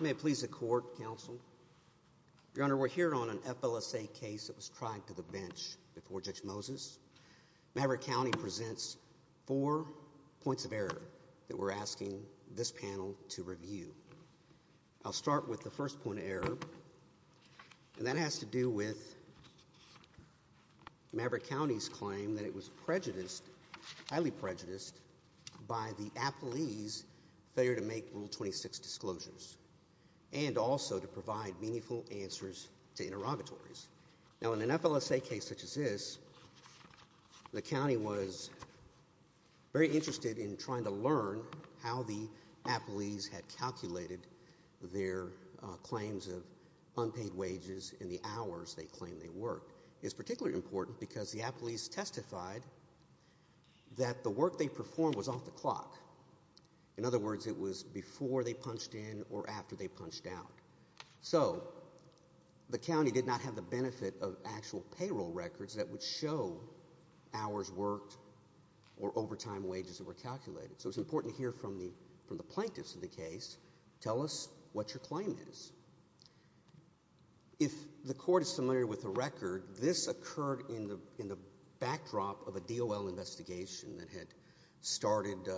May it please the Court, Counsel. Your Honor, we're here on an FLSA case that was tried to the bench before Judge Moses. Maverick County presents four points of error that we're asking this panel to review. I'll start with the first point of error, and that has to do with Maverick County's claim that it was prejudiced, highly prejudiced, by the appellee's failure to make Rule 26 disclosures and also to provide meaningful answers to interrogatories. Now, in an FLSA case such as this, the county was very interested in trying to learn how the appellees had calculated their claims of unpaid wages in the hours they claimed they worked. This work is particularly important because the appellees testified that the work they performed was off the clock. In other words, it was before they punched in or after they punched out. So the county did not have the benefit of actual payroll records that would show hours worked or overtime wages that were calculated. So it's important to hear from the plaintiffs in the case, tell us what your claim is. If the court is familiar with the record, this occurred in the backdrop of a DOL investigation that had started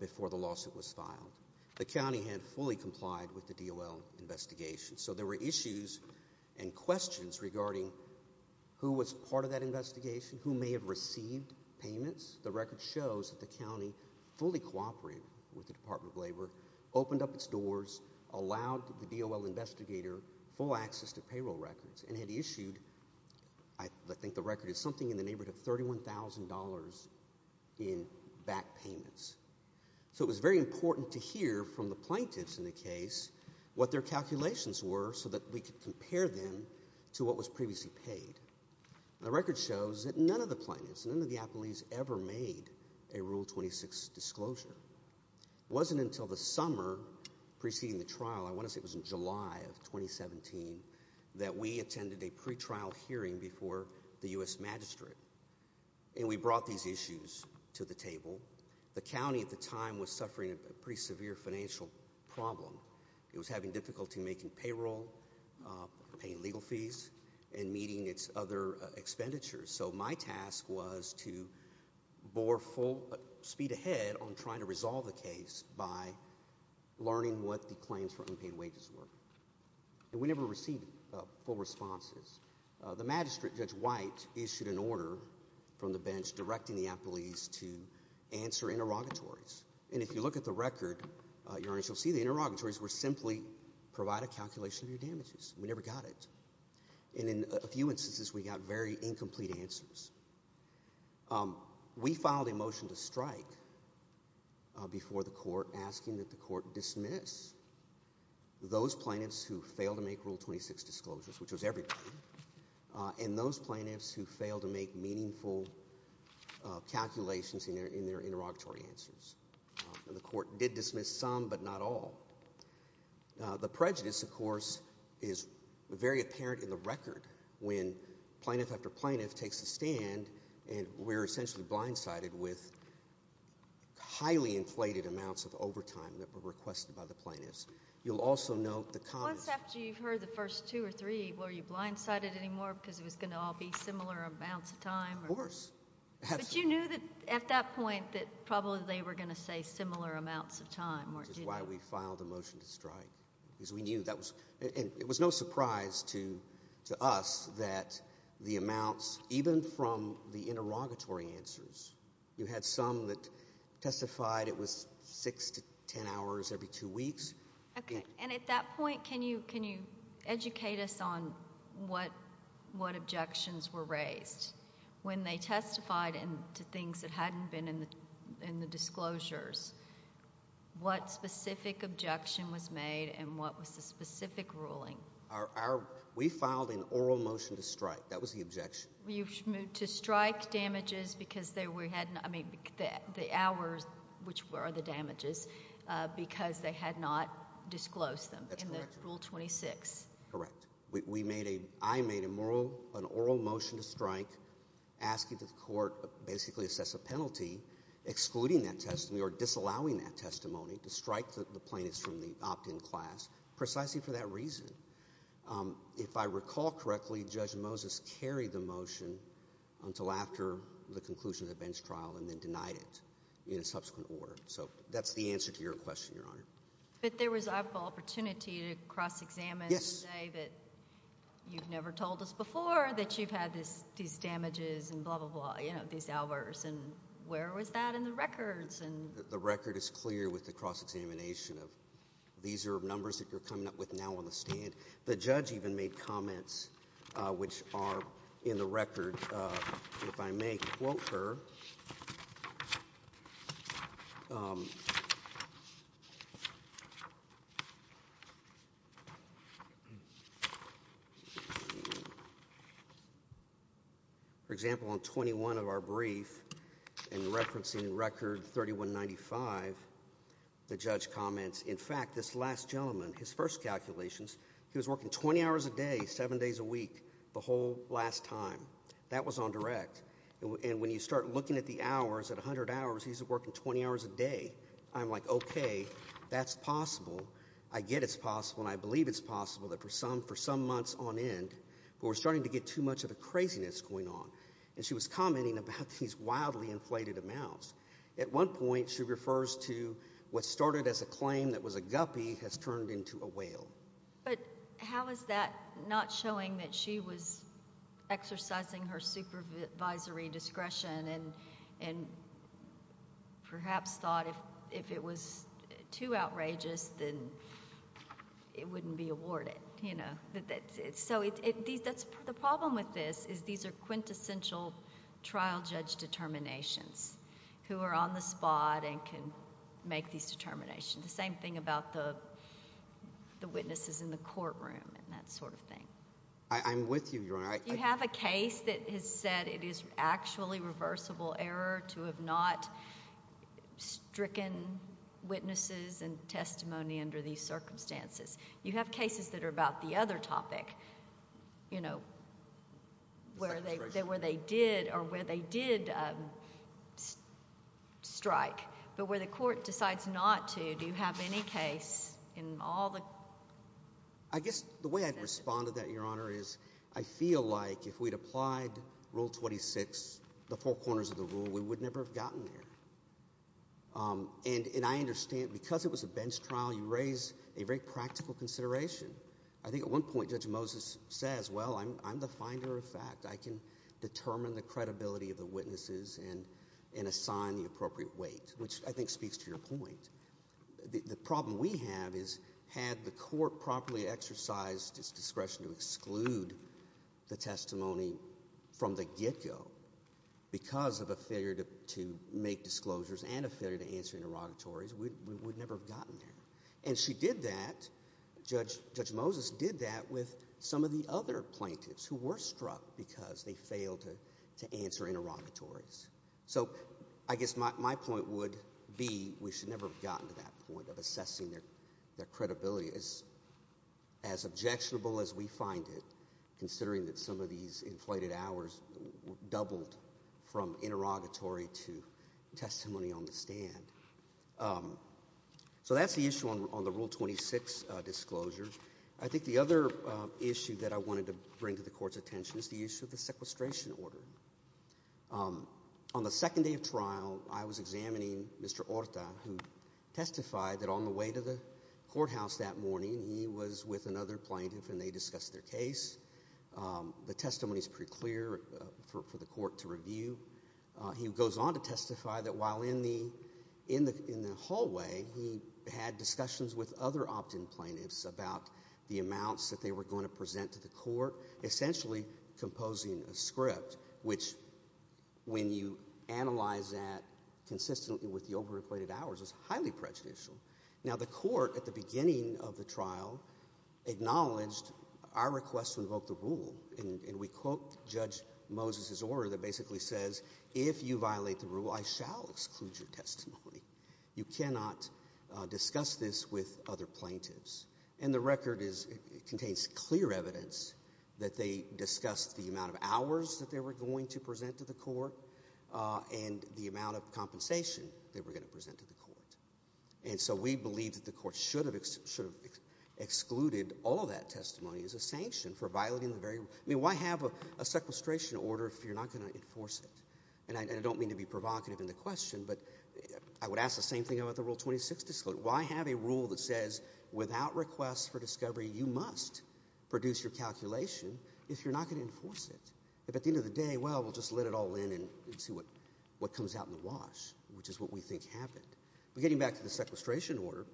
before the lawsuit was filed. The county had fully complied with the DOL investigation, so there were issues and questions regarding who was part of that investigation, who may have received payments. The record shows that the county fully cooperated with the Department of Labor, opened up its doors, allowed the DOL investigator full access to payroll records, and had issued, I think the record is something in the neighborhood of $31,000 in back payments. So it was very important to hear from the plaintiffs in the case what their calculations were so that we could compare them to what was previously paid. The record shows that none of the plaintiffs, none of the appellees ever made a Rule 26 disclosure. It wasn't until the summer preceding the trial, I want to say it was in July of 2017, that we attended a pretrial hearing before the US Magistrate. And we brought these issues to the table. The county at the time was suffering a pretty severe financial problem. It was having difficulty making payroll, paying legal fees, and meeting its other expenditures. So my task was to bore full speed ahead on trying to resolve the case by learning what the claims for unpaid wages were. And we never received full responses. The magistrate, Judge White, issued an order from the bench directing the appellees to answer interrogatories. And if you look at the record, Your Honor, you'll see the interrogatories were simply provide a calculation of your damages. We never got it. And in a few instances, we got very incomplete answers. We filed a motion to strike before the court asking that the court dismiss those plaintiffs who failed to make Rule 26 disclosures, which was everybody, and those plaintiffs who failed to make meaningful calculations in their interrogatory answers. And the court did dismiss some, but not all. The prejudice, of course, is very apparent in the record when plaintiff after plaintiff takes a stand, and we're essentially blindsided with highly inflated amounts of overtime that were requested by the plaintiffs. You'll also note the comments. Just after you've heard the first two or three, were you blindsided anymore because it was going to all be similar amounts of time? Of course. But you knew that at that point that probably they were going to say similar amounts of time, weren't you? Which is why we filed a motion to strike because we knew that was – and it was no surprise to us that the amounts, even from the interrogatory answers, you had some that testified it was six to ten hours every two weeks. Okay. And at that point, can you educate us on what objections were raised? When they testified to things that hadn't been in the disclosures, what specific objection was made and what was the specific ruling? We filed an oral motion to strike. That was the objection. You moved to strike damages because they were – I mean the hours, which were the damages, because they had not disclosed them in Rule 26. Correct. We made a – I made an oral motion to strike asking the court basically assess a penalty, excluding that testimony or disallowing that testimony to strike the plaintiffs from the opt-in class precisely for that reason. If I recall correctly, Judge Moses carried the motion until after the conclusion of the bench trial and then denied it in a subsequent order. So that's the answer to your question, Your Honor. But there was an opportunity to cross-examine the day that you've never told us before that you've had these damages and blah, blah, blah, these hours. The record is clear with the cross-examination of these are numbers that you're coming up with now on the stand. The judge even made comments which are in the record. If I may quote her. For example, on 21 of our brief, in referencing record 3195, the judge comments, in fact, this last gentleman, his first calculations, he was working 20 hours a day, seven days a week, the whole last time. That was on direct. And when you start looking at the hours, at 100 hours, he's working 20 hours a day. I'm like, okay, that's possible. I get it's possible and I believe it's possible that for some months on end we're starting to get too much of the craziness going on. And she was commenting about these wildly inflated amounts. At one point she refers to what started as a claim that was a guppy has turned into a whale. But how is that not showing that she was exercising her supervisory discretion and perhaps thought if it was too outrageous, then it wouldn't be awarded? So the problem with this is these are quintessential trial judge determinations who are on the spot and can make these determinations. The same thing about the witnesses in the courtroom and that sort of thing. I'm with you, Your Honor. You have a case that has said it is actually reversible error to have not stricken witnesses and testimony under these circumstances. You have cases that are about the other topic, you know, where they did strike. But where the court decides not to, do you have any case in all the? I guess the way I'd respond to that, Your Honor, is I feel like if we'd applied Rule 26, the four corners of the rule, we would never have gotten there. And I understand because it was a bench trial, you raised a very practical consideration. I think at one point Judge Moses says, well, I'm the finder of fact. I can determine the credibility of the witnesses and assign the appropriate weight, which I think speaks to your point. The problem we have is had the court properly exercised its discretion to exclude the testimony from the get-go because of a failure to make disclosures and a failure to answer interrogatories, we would never have gotten there. And she did that. Judge Moses did that with some of the other plaintiffs who were struck because they failed to answer interrogatories. So I guess my point would be we should never have gotten to that point of assessing their credibility. It's as objectionable as we find it, considering that some of these inflated hours doubled from interrogatory to testimony on the stand. So that's the issue on the Rule 26 disclosure. I think the other issue that I wanted to bring to the Court's attention is the issue of the sequestration order. On the second day of trial, I was examining Mr. Orta, who testified that on the way to the courthouse that morning, he was with another plaintiff and they discussed their case. The testimony is pretty clear for the Court to review. He goes on to testify that while in the hallway, he had discussions with other opt-in plaintiffs about the amounts that they were going to present to the Court, essentially composing a script, which, when you analyze that consistently with the overinflated hours, is highly prejudicial. Now, the Court, at the beginning of the trial, acknowledged our request to invoke the rule. And we quote Judge Moses' order that basically says, if you violate the rule, I shall exclude your testimony. You cannot discuss this with other plaintiffs. And the record contains clear evidence that they discussed the amount of hours that they were going to present to the Court and the amount of compensation they were going to present to the Court. And so we believe that the Court should have excluded all of that testimony as a sanction for violating the very rule. I mean, why have a sequestration order if you're not going to enforce it? And I don't mean to be provocative in the question, but I would ask the same thing about the Rule 26 disclosure. Why have a rule that says, without request for discovery, you must produce your calculation if you're not going to enforce it? If at the end of the day, well, we'll just let it all in and see what comes out in the wash, which is what we think happened. But getting back to the sequestration order,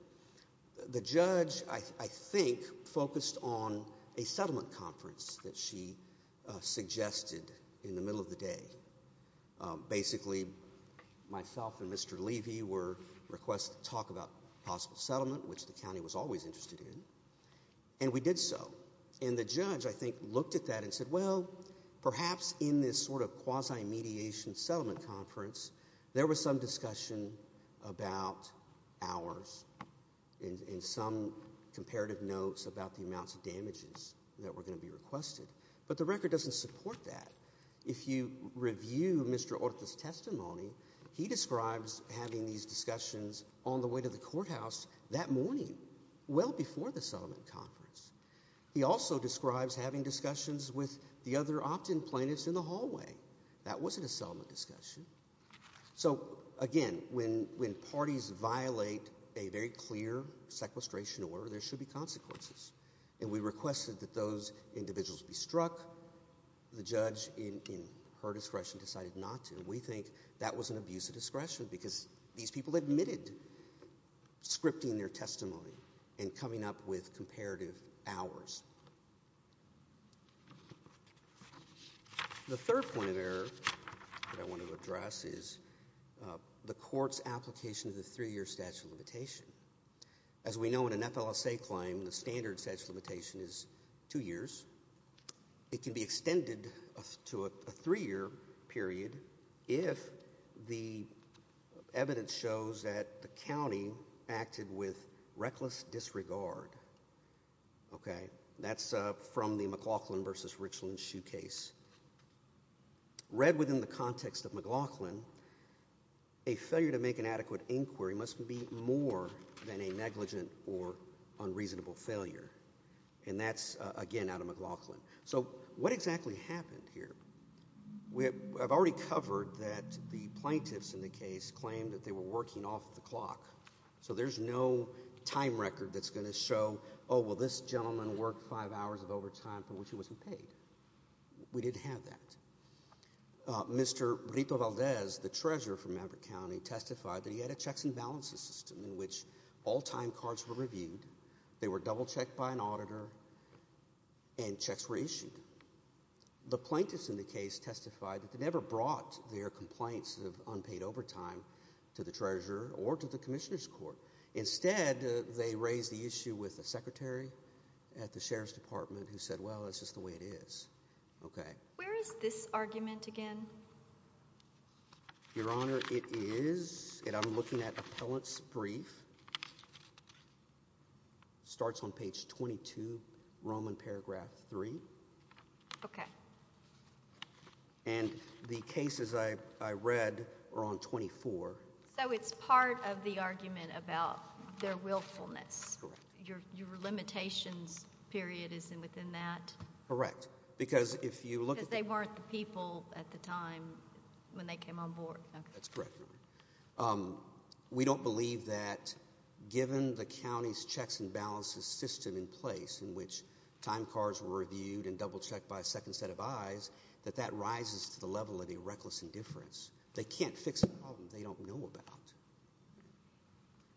the judge, I think, focused on a settlement conference that she suggested in the middle of the day. Basically, myself and Mr. Levy were requested to talk about possible settlement, which the county was always interested in, and we did so. And the judge, I think, looked at that and said, well, perhaps in this sort of quasi-mediation settlement conference, there was some discussion about hours and some comparative notes about the amounts of damages that were going to be requested. But the record doesn't support that. If you review Mr. Orta's testimony, he describes having these discussions on the way to the courthouse that morning, well before the settlement conference. He also describes having discussions with the other opt-in plaintiffs in the hallway. That wasn't a settlement discussion. So, again, when parties violate a very clear sequestration order, there should be consequences. And we requested that those individuals be struck. The judge, in her discretion, decided not to. We think that was an abuse of discretion because these people admitted scripting their testimony and coming up with comparative hours. The third point of error that I want to address is the court's application of the three-year statute of limitation. As we know, in an FLSA claim, the standard statute of limitation is two years. It can be extended to a three-year period if the evidence shows that the county acted with reckless disregard. Okay? That's from the McLaughlin v. Richland shoe case. Read within the context of McLaughlin, a failure to make an adequate inquiry must be more than a negligent or unreasonable failure. And that's, again, out of McLaughlin. So what exactly happened here? I've already covered that the plaintiffs in the case claimed that they were working off the clock. So there's no time record that's going to show, oh, well, this gentleman worked five hours of overtime for which he wasn't paid. We didn't have that. Mr. Rito Valdez, the treasurer for Maverick County, testified that he had a checks and balances system in which all time cards were reviewed, they were double-checked by an auditor, and checks were issued. The plaintiffs in the case testified that they never brought their complaints of unpaid overtime to the treasurer or to the commissioner's court. Instead, they raised the issue with the secretary at the sheriff's department who said, well, it's just the way it is. Okay. Where is this argument again? Your Honor, it is – and I'm looking at appellant's brief. It starts on page 22, Roman paragraph 3. Okay. And the cases I read are on 24. So it's part of the argument about their willfulness. Correct. Your limitations period is within that. Correct. Because if you look at the – Because they weren't the people at the time when they came on board. That's correct. We don't believe that given the county's checks and balances system in place in which time cards were reviewed and double-checked by a second set of eyes, that that rises to the level of the reckless indifference. They can't fix a problem they don't know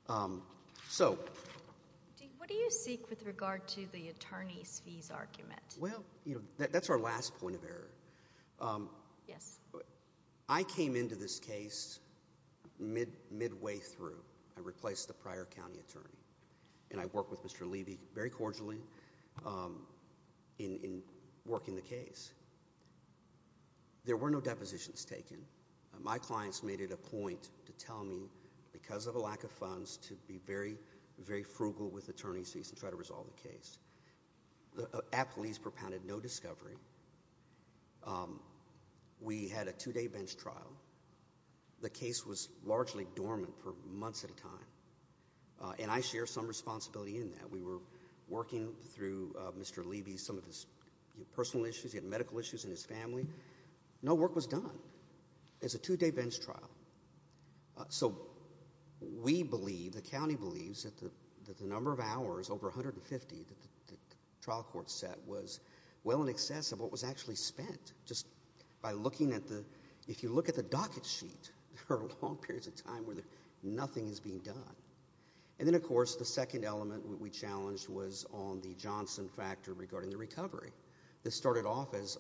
about. So – What do you seek with regard to the attorney's fees argument? Well, that's our last point of error. Yes. I came into this case midway through. I replaced the prior county attorney. And I worked with Mr. Levy very cordially in working the case. There were no depositions taken. My clients made it a point to tell me, because of a lack of funds, to be very, very frugal with attorney's fees and try to resolve the case. At police propounded, no discovery. We had a two-day bench trial. The case was largely dormant for months at a time. And I share some responsibility in that. We were working through Mr. Levy, some of his personal issues. He had medical issues in his family. No work was done. It's a two-day bench trial. So we believe, the county believes, that the number of hours, over 150, that the trial court set was well in excess of what was actually spent. Just by looking at the – if you look at the docket sheet, there are long periods of time where nothing is being done. And then, of course, the second element we challenged was on the Johnson factor regarding the recovery. This started off as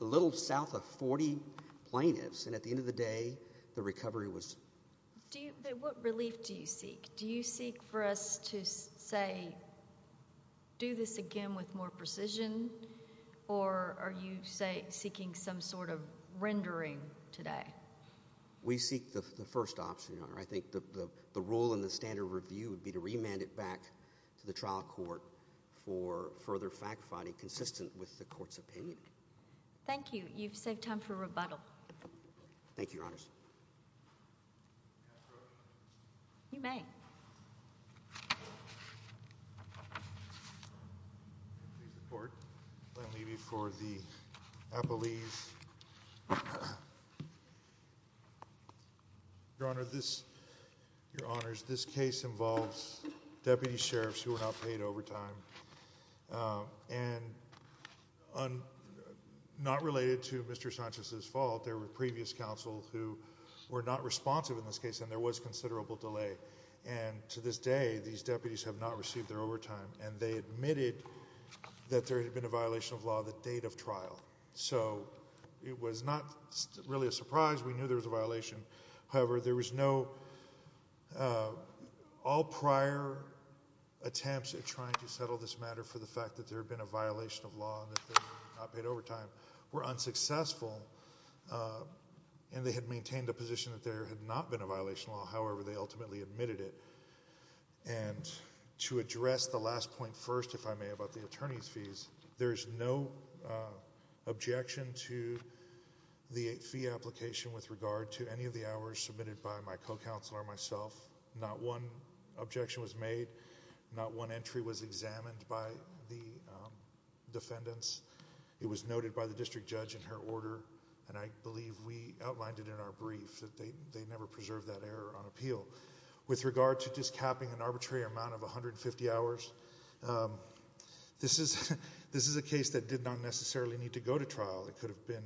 a little south of 40 plaintiffs, and at the end of the day, the recovery was – What relief do you seek? Do you seek for us to, say, do this again with more precision? Or are you, say, seeking some sort of rendering today? We seek the first option, Your Honor. I think the rule in the standard review would be to remand it back to the trial court for further fact-finding, consistent with the court's opinion. Thank you. You've saved time for rebuttal. Thank you, Your Honors. You may. Your Honor, this – Your Honors, this case involves deputy sheriffs who were not paid overtime, and not related to Mr. Sanchez's fault. There were previous counsel who were not responsive in this case, and there was considerable delay. And to this day, these deputies have not received their overtime, and they admitted that there had been a violation of law the date of trial. So it was not really a surprise. We knew there was a violation. However, there was no – all prior attempts at trying to settle this matter for the fact that there had been a violation of law and that they were not paid overtime were unsuccessful. And they had maintained a position that there had not been a violation of law. However, they ultimately admitted it. And to address the last point first, if I may, about the attorney's fees, there is no objection to the fee application with regard to any of the hours submitted by my co-counselor and myself. Not one objection was made. Not one entry was examined by the defendants. It was noted by the district judge in her order, and I believe we outlined it in our brief that they never preserved that error on appeal. With regard to just capping an arbitrary amount of 150 hours, this is a case that did not necessarily need to go to trial. It could have been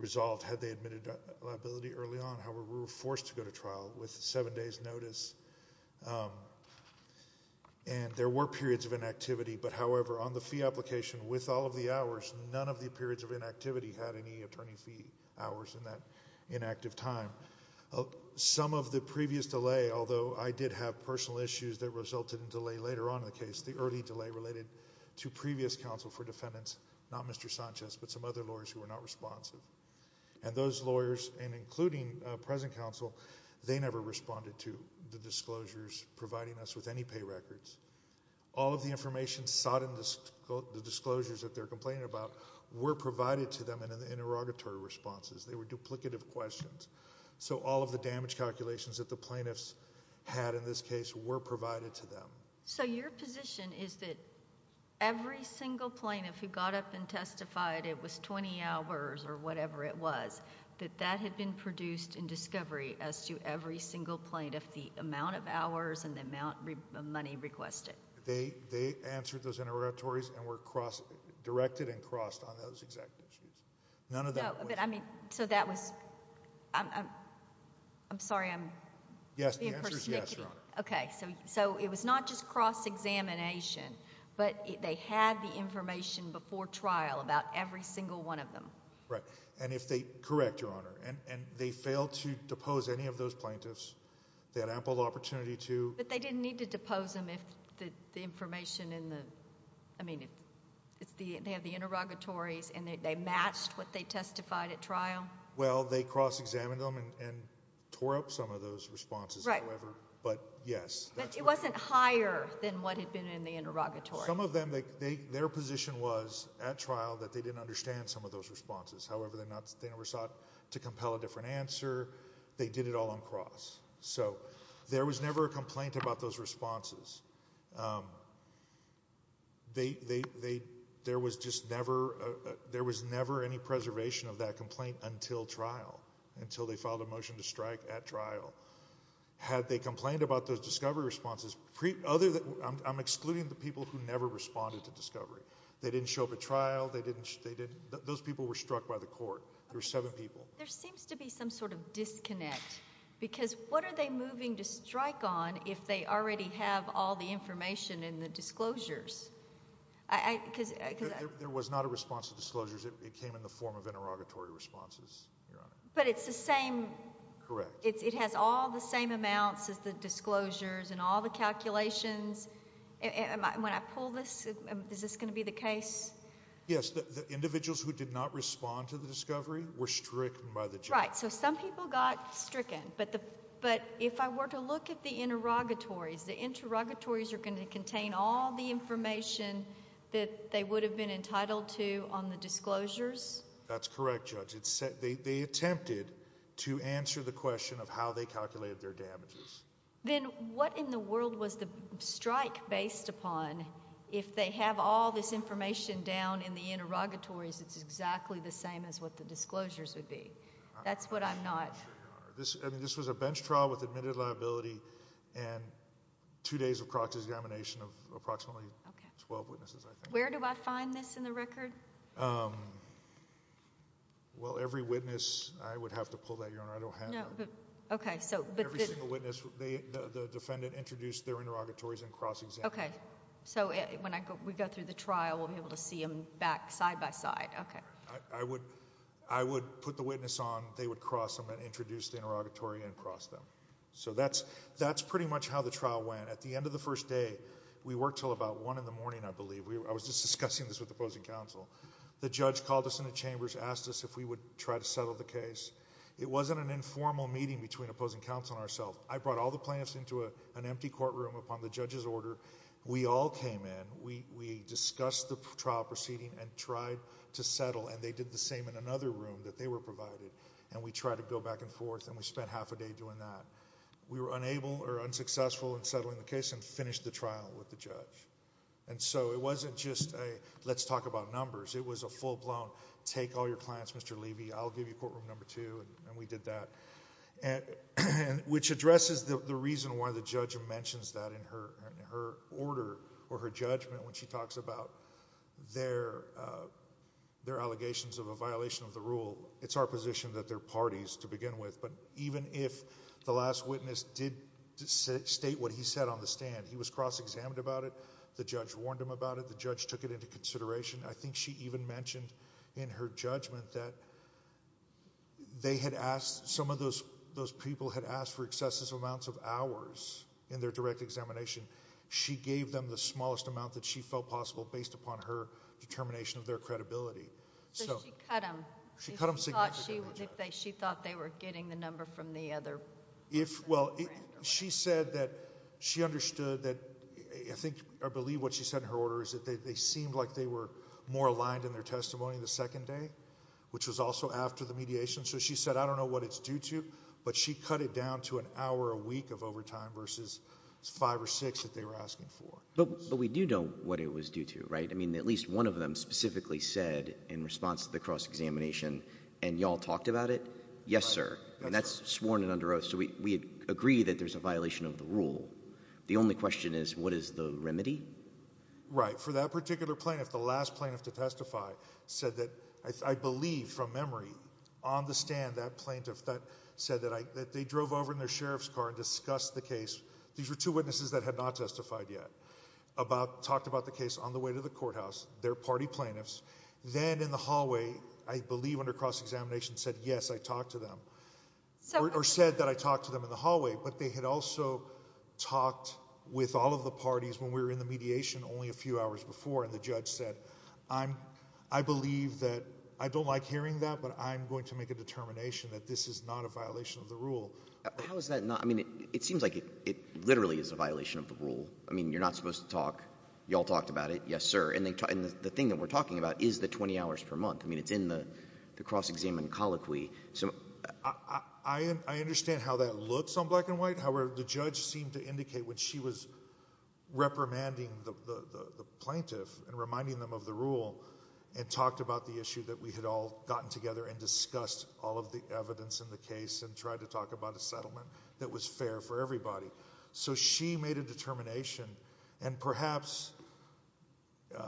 resolved had they admitted liability early on. However, we were forced to go to trial with seven days' notice. And there were periods of inactivity, but however, on the fee application, with all of the hours, none of the periods of inactivity had any attorney fee hours in that inactive time. Some of the previous delay, although I did have personal issues that resulted in delay later on in the case, the early delay related to previous counsel for defendants, not Mr. Sanchez, but some other lawyers who were not responsive. And those lawyers, and including present counsel, they never responded to the disclosures providing us with any pay records. All of the information sought in the disclosures that they're complaining about were provided to them in interrogatory responses. They were duplicative questions. So all of the damage calculations that the plaintiffs had in this case were provided to them. So your position is that every single plaintiff who got up and testified, it was 20 hours or whatever it was, that that had been produced in discovery as to every single plaintiff, the amount of hours and the amount of money requested. They answered those interrogatories and were directed and crossed on those exact issues. None of that was— No, but I mean, so that was—I'm sorry, I'm being pretty snickety. Yes, the answer is yes, Your Honor. Okay, so it was not just cross-examination, but they had the information before trial about every single one of them. Right, and if they—correct, Your Honor. And they failed to depose any of those plaintiffs. They had ample opportunity to— But they didn't need to depose them if the information in the—I mean, if they had the interrogatories and they matched what they testified at trial? Well, they cross-examined them and tore up some of those responses, however, but yes. But it wasn't higher than what had been in the interrogatory. Some of them, their position was at trial that they didn't understand some of those responses. However, they never sought to compel a different answer. They did it all on cross. So there was never a complaint about those responses. There was just never—there was never any preservation of that complaint until trial, until they filed a motion to strike at trial. Had they complained about those discovery responses, other than—I'm excluding the people who never responded to discovery. They didn't show up at trial. They didn't—those people were struck by the court. There were seven people. There seems to be some sort of disconnect because what are they moving to strike on if they already have all the information in the disclosures? Because— There was not a response to disclosures. It came in the form of interrogatory responses, Your Honor. But it's the same— Correct. It has all the same amounts as the disclosures and all the calculations. When I pull this, is this going to be the case? Yes. The individuals who did not respond to the discovery were stricken by the judge. Right. So some people got stricken. But if I were to look at the interrogatories, the interrogatories are going to contain all the information that they would have been entitled to on the disclosures? That's correct, Judge. They attempted to answer the question of how they calculated their damages. Then what in the world was the strike based upon if they have all this information down in the interrogatories that's exactly the same as what the disclosures would be? That's what I'm not— I mean, this was a bench trial with admitted liability and two days of proxy examination of approximately 12 witnesses, I think. Where do I find this in the record? Well, every witness—I would have to pull that, Your Honor. I don't have it. Okay. Every single witness, the defendant introduced their interrogatories and cross-examined them. Okay. So when we go through the trial, we'll be able to see them back side by side. Okay. I would put the witness on. They would cross them and introduce the interrogatory and cross them. So that's pretty much how the trial went. At the end of the first day, we worked until about 1 in the morning, I believe. I was just discussing this with the opposing counsel. The judge called us into chambers, asked us if we would try to settle the case. It wasn't an informal meeting between opposing counsel and ourselves. I brought all the plaintiffs into an empty courtroom upon the judge's order. We all came in. We discussed the trial proceeding and tried to settle, and they did the same in another room that they were provided. And we tried to go back and forth, and we spent half a day doing that. We were unable or unsuccessful in settling the case and finished the trial with the judge. And so it wasn't just a let's talk about numbers. It was a full-blown take all your clients, Mr. Levy. I'll give you courtroom number two, and we did that, which addresses the reason why the judge mentions that in her order or her judgment when she talks about their allegations of a violation of the rule. It's our position that they're parties to begin with. But even if the last witness did state what he said on the stand, he was cross-examined about it. The judge warned him about it. The judge took it into consideration. I think she even mentioned in her judgment that they had asked, some of those people had asked for excessive amounts of hours in their direct examination. She gave them the smallest amount that she felt possible based upon her determination of their credibility. So she cut them. She cut them significantly. She thought they were getting the number from the other. She said that she understood that I think or believe what she said in her order is that they seemed like they were more aligned in their testimony the second day, which was also after the mediation. So she said, I don't know what it's due to, but she cut it down to an hour a week of overtime versus five or six that they were asking for. But we do know what it was due to, right? I mean, at least one of them specifically said in response to the cross-examination, and you all talked about it, yes, sir. And that's sworn and under oath. So we agree that there's a violation of the rule. The only question is what is the remedy? Right. For that particular plaintiff, the last plaintiff to testify said that, I believe from memory, on the stand that plaintiff said that they drove over in their sheriff's car and discussed the case. These were two witnesses that had not testified yet, talked about the case on the way to the courthouse, their party plaintiffs. Then in the hallway, I believe under cross-examination, said, yes, I talked to them. Or said that I talked to them in the hallway. But they had also talked with all of the parties when we were in the mediation only a few hours before, and the judge said, I believe that I don't like hearing that, but I'm going to make a determination that this is not a violation of the rule. How is that not? I mean, it seems like it literally is a violation of the rule. I mean, you're not supposed to talk. You all talked about it. Yes, sir. And the thing that we're talking about is the 20 hours per month. I mean, it's in the cross-examination colloquy. I understand how that looks on black and white. However, the judge seemed to indicate when she was reprimanding the plaintiff and reminding them of the rule and talked about the issue that we had all gotten together and discussed all of the evidence in the case and tried to talk about a settlement that was fair for everybody. So she made a determination, and perhaps— Can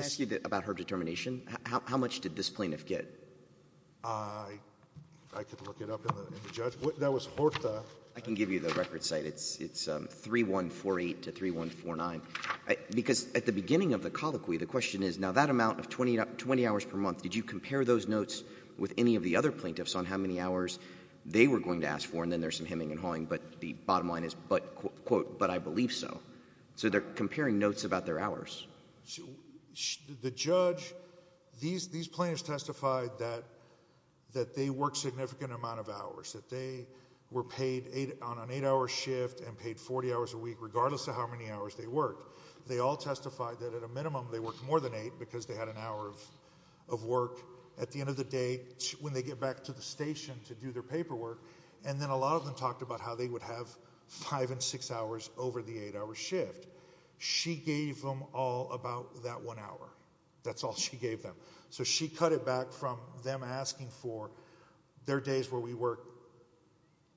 I ask you about her determination? How much did this plaintiff get? I could look it up in the judge. That was Horta. I can give you the record site. It's 3148 to 3149. Because at the beginning of the colloquy, the question is, now that amount of 20 hours per month, did you compare those notes with any of the other plaintiffs on how many hours they were going to ask for, and then there's some hemming and hawing, but the bottom line is, quote, but I believe so. So they're comparing notes about their hours. The judge—these plaintiffs testified that they worked a significant amount of hours, that they were paid on an eight-hour shift and paid 40 hours a week regardless of how many hours they worked. They all testified that at a minimum they worked more than eight because they had an hour of work. At the end of the day, when they get back to the station to do their paperwork and then a lot of them talked about how they would have five and six hours over the eight-hour shift, she gave them all about that one hour. That's all she gave them. So she cut it back from them asking for their days where we work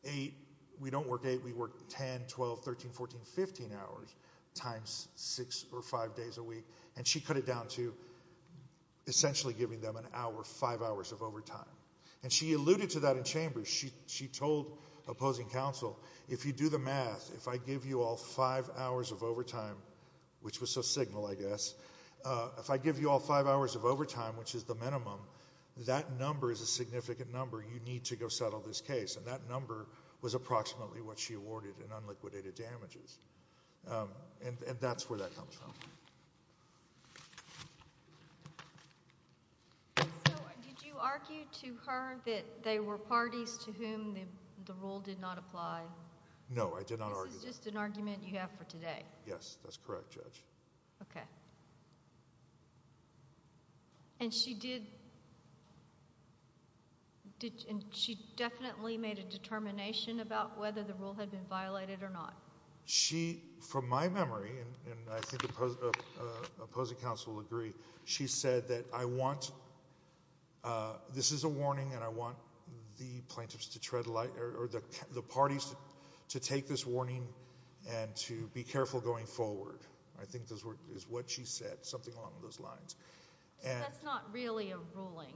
eight—we don't work eight, we work 10, 12, 13, 14, 15 hours times six or five days a week, and she cut it down to essentially giving them an hour, five hours of overtime. And she alluded to that in chambers. She told opposing counsel, if you do the math, if I give you all five hours of overtime, which was so signal, I guess, if I give you all five hours of overtime, which is the minimum, that number is a significant number, you need to go settle this case. And that number was approximately what she awarded in unliquidated damages. And that's where that comes from. So did you argue to her that they were parties to whom the rule did not apply? No, I did not argue that. This is just an argument you have for today? Yes, that's correct, Judge. Okay. And she did—and she definitely made a determination about whether the rule had been violated or not? She, from my memory, and I think opposing counsel will agree, she said that I want—this is a warning, and I want the plaintiffs to tread lightly— or the parties to take this warning and to be careful going forward. I think this is what she said, something along those lines. So that's not really a ruling?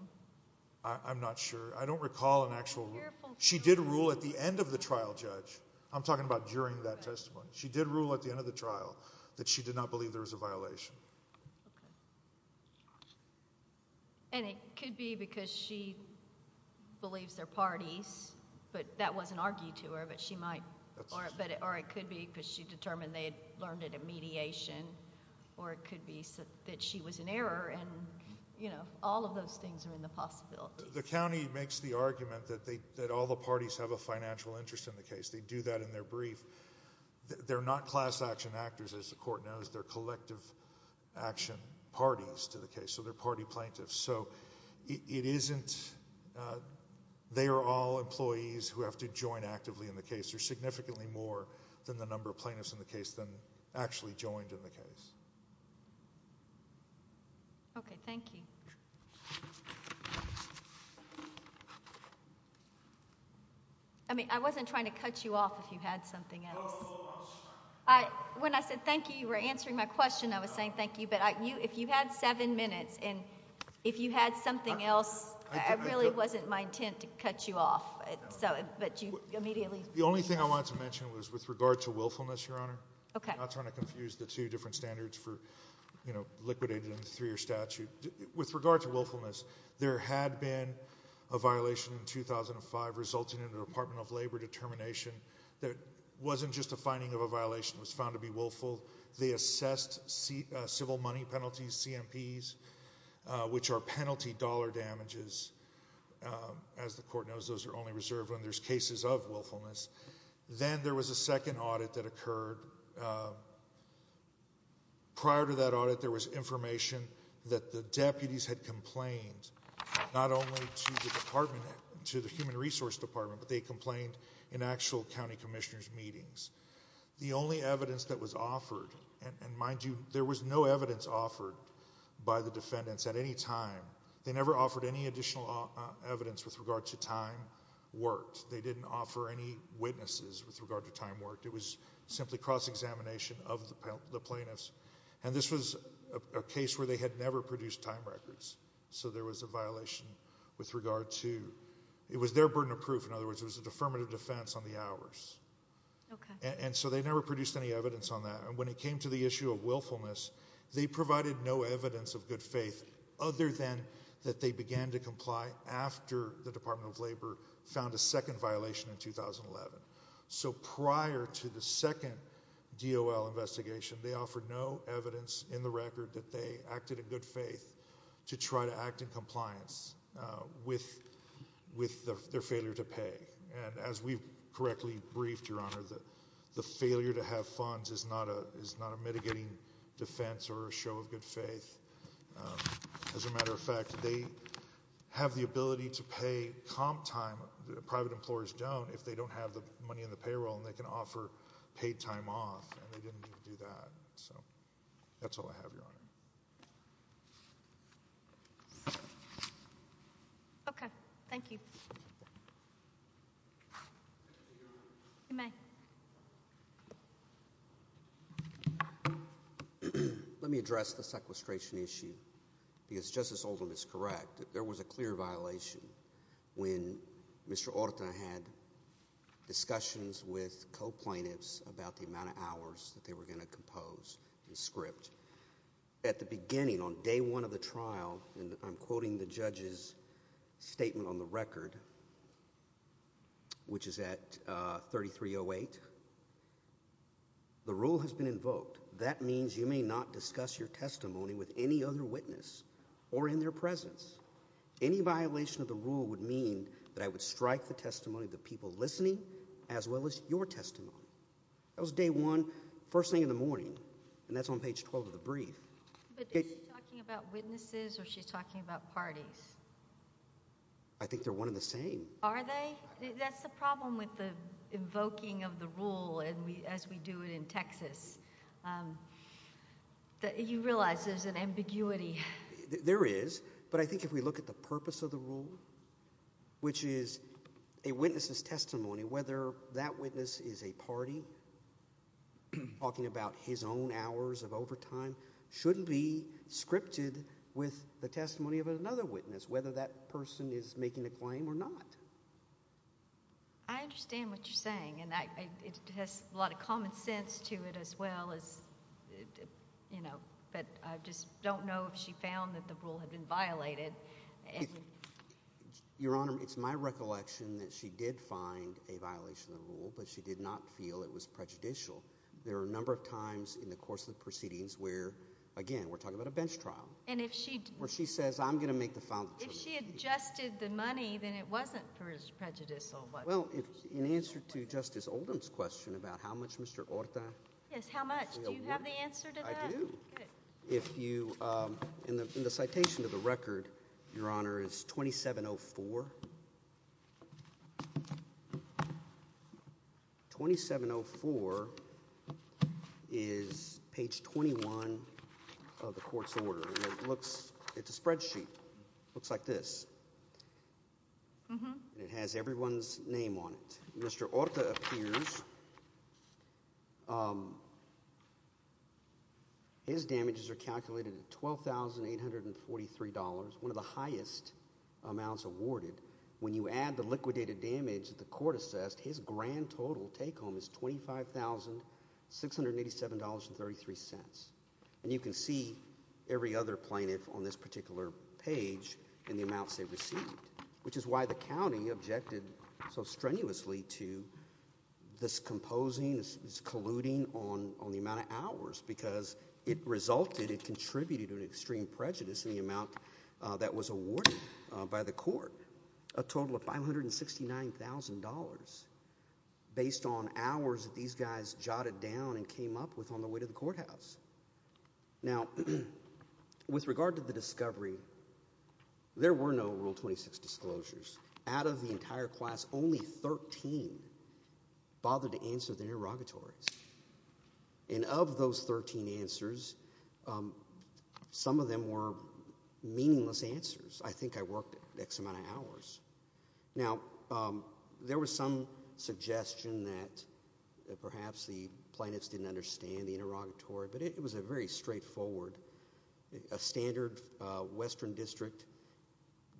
I'm not sure. I don't recall an actual— She did rule at the end of the trial, Judge. I'm talking about during that testimony. She did rule at the end of the trial that she did not believe there was a violation. Okay. And it could be because she believes they're parties, but that wasn't argued to her, but she might—or it could be because she determined they had learned it in mediation, or it could be that she was in error, and all of those things are in the possibility. The county makes the argument that all the parties have a financial interest in the case. They do that in their brief. They're not class action actors, as the court knows. They're collective action parties to the case, so they're party plaintiffs. So it isn't—they are all employees who have to join actively in the case. They're significantly more than the number of plaintiffs in the case than actually joined in the case. Okay. Thank you. I mean, I wasn't trying to cut you off if you had something else. When I said thank you, you were answering my question. I was saying thank you, but if you had seven minutes and if you had something else, it really wasn't my intent to cut you off, but you immediately— The only thing I wanted to mention was with regard to willfulness, Your Honor. Okay. I'm not trying to confuse the two different standards for liquidating them through your statute. With regard to willfulness, there had been a violation in 2005 resulting in a Department of Labor determination that wasn't just a finding of a violation. It was found to be willful. They assessed civil money penalties, CMPs, which are penalty dollar damages. As the court knows, those are only reserved when there's cases of willfulness. Then there was a second audit that occurred. Prior to that audit, there was information that the deputies had complained, not only to the Department, to the Human Resource Department, but they complained in actual county commissioners' meetings. The only evidence that was offered, and mind you, there was no evidence offered by the defendants at any time. They never offered any additional evidence with regard to time worked. They didn't offer any witnesses with regard to time worked. It was simply cross-examination of the plaintiffs. This was a case where they had never produced time records, so there was a violation with regard to—it was their burden of proof. In other words, it was a deferment of defense on the hours. Okay. They never produced any evidence on that. When it came to the issue of willfulness, they provided no evidence of good faith other than that they began to comply after the Department of Labor found a second violation in 2011. So prior to the second DOL investigation, they offered no evidence in the record that they acted in good faith to try to act in compliance with their failure to pay. And as we've correctly briefed, Your Honor, the failure to have funds is not a mitigating defense or a show of good faith. As a matter of fact, they have the ability to pay comp time. Private employers don't if they don't have the money in the payroll, and they can offer paid time off, and they didn't do that. So that's all I have, Your Honor. Okay. Thank you. You may. Let me address the sequestration issue because Justice Oldham is correct. There was a clear violation when Mr. Orta had discussions with co-plaintiffs about the amount of hours that they were going to compose the script. At the beginning, on day one of the trial, and I'm quoting the judge's statement on the record, which is at 3308, the rule has been invoked. That means you may not discuss your testimony with any other witness or in their presence. Any violation of the rule would mean that I would strike the testimony of the people listening as well as your testimony. That was day one, first thing in the morning, and that's on page 12 of the brief. But is she talking about witnesses or is she talking about parties? I think they're one and the same. Are they? That's the problem with the invoking of the rule as we do it in Texas. You realize there's an ambiguity. There is, but I think if we look at the purpose of the rule, which is a witness's testimony, whether that witness is a party, talking about his own hours of overtime, shouldn't be scripted with the testimony of another witness, whether that person is making a claim or not. I understand what you're saying, and it has a lot of common sense to it as well, but I just don't know if she found that the rule had been violated. Your Honor, it's my recollection that she did find a violation of the rule, but she did not feel it was prejudicial. There are a number of times in the course of the proceedings where, again, we're talking about a bench trial, where she says, I'm going to make the foul. If she adjusted the money, then it wasn't prejudicial. Well, in answer to Justice Oldham's question about how much Mr. Orta Yes, how much? Do you have the answer to that? I do. Good. In the citation of the record, Your Honor, is 2704. 2704 is page 21 of the court's order. It's a spreadsheet. It looks like this, and it has everyone's name on it. Mr. Orta appears. His damages are calculated at $12,843, one of the highest amounts awarded. When you add the liquidated damage that the court assessed, his grand total take-home is $25,687.33. And you can see every other plaintiff on this particular page and the amounts they received, which is why the county objected so strenuously to this composing, this colluding on the amount of hours, because it resulted, it contributed to an extreme prejudice in the amount that was awarded by the court, a total of $569,000, based on hours that these guys jotted down and came up with on the way to the courthouse. Now, with regard to the discovery, there were no Rule 26 disclosures. Out of the entire class, only 13 bothered to answer their interrogatories. And of those 13 answers, some of them were meaningless answers. I think I worked X amount of hours. Now, there was some suggestion that perhaps the plaintiffs didn't understand the interrogatory, but it was very straightforward. A standard Western District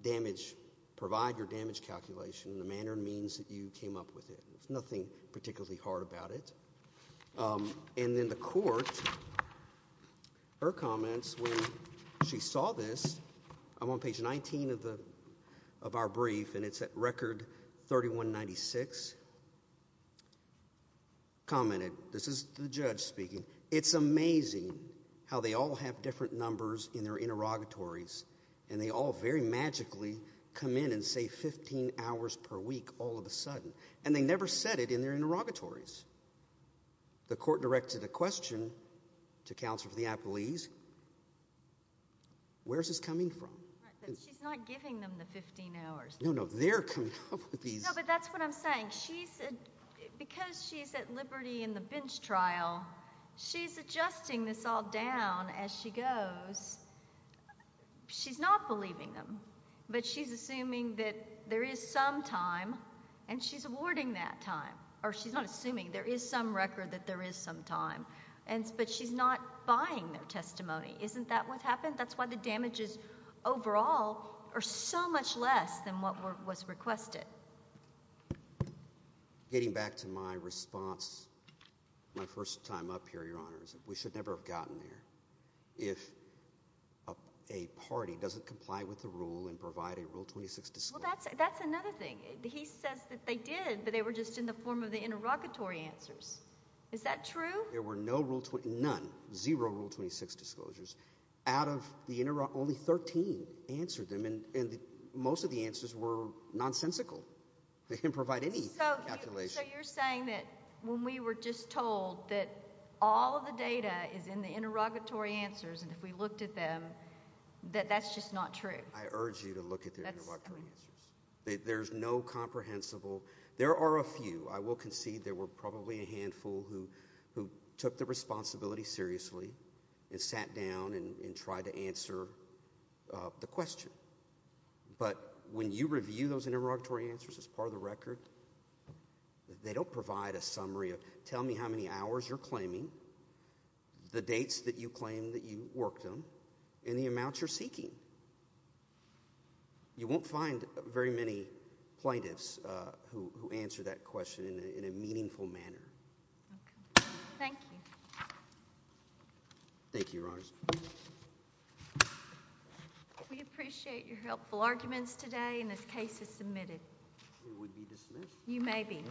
damage, provide your damage calculation, the manner and means that you came up with it. There's nothing particularly hard about it. And then the court, her comments when she saw this, I'm on page 19 of our brief, and it's at record 3196, commented, this is the judge speaking, it's amazing how they all have different numbers in their interrogatories and they all very magically come in and say 15 hours per week all of a sudden. And they never said it in their interrogatories. The court directed a question to counsel for the appellees, where is this coming from? She's not giving them the 15 hours. No, no, they're coming up with these. No, but that's what I'm saying. Because she's at liberty in the bench trial, she's adjusting this all down as she goes. She's not believing them, but she's assuming that there is some time, and she's awarding that time. Or she's not assuming there is some record that there is some time, but she's not buying their testimony. Isn't that what happened? That's why the damages overall are so much less than what was requested. Getting back to my response my first time up here, Your Honors, we should never have gotten there. If a party doesn't comply with the rule and provide a Rule 26 disclosure. Well, that's another thing. He says that they did, but they were just in the form of the interrogatory answers. Is that true? There were none, zero Rule 26 disclosures. Out of the only 13 answered them, and most of the answers were nonsensical. They didn't provide any calculation. If we looked at them, that's just not true. I urge you to look at the interrogatory answers. There's no comprehensible. There are a few. I will concede there were probably a handful who took the responsibility seriously and sat down and tried to answer the question. But when you review those interrogatory answers as part of the record, they don't provide a summary of tell me how many hours you're claiming, the dates that you claim that you worked them, and the amounts you're seeking. You won't find very many plaintiffs who answer that question in a meaningful manner. Thank you. Thank you, Your Honors. We appreciate your helpful arguments today, and this case is submitted. It would be dismissed? You may be.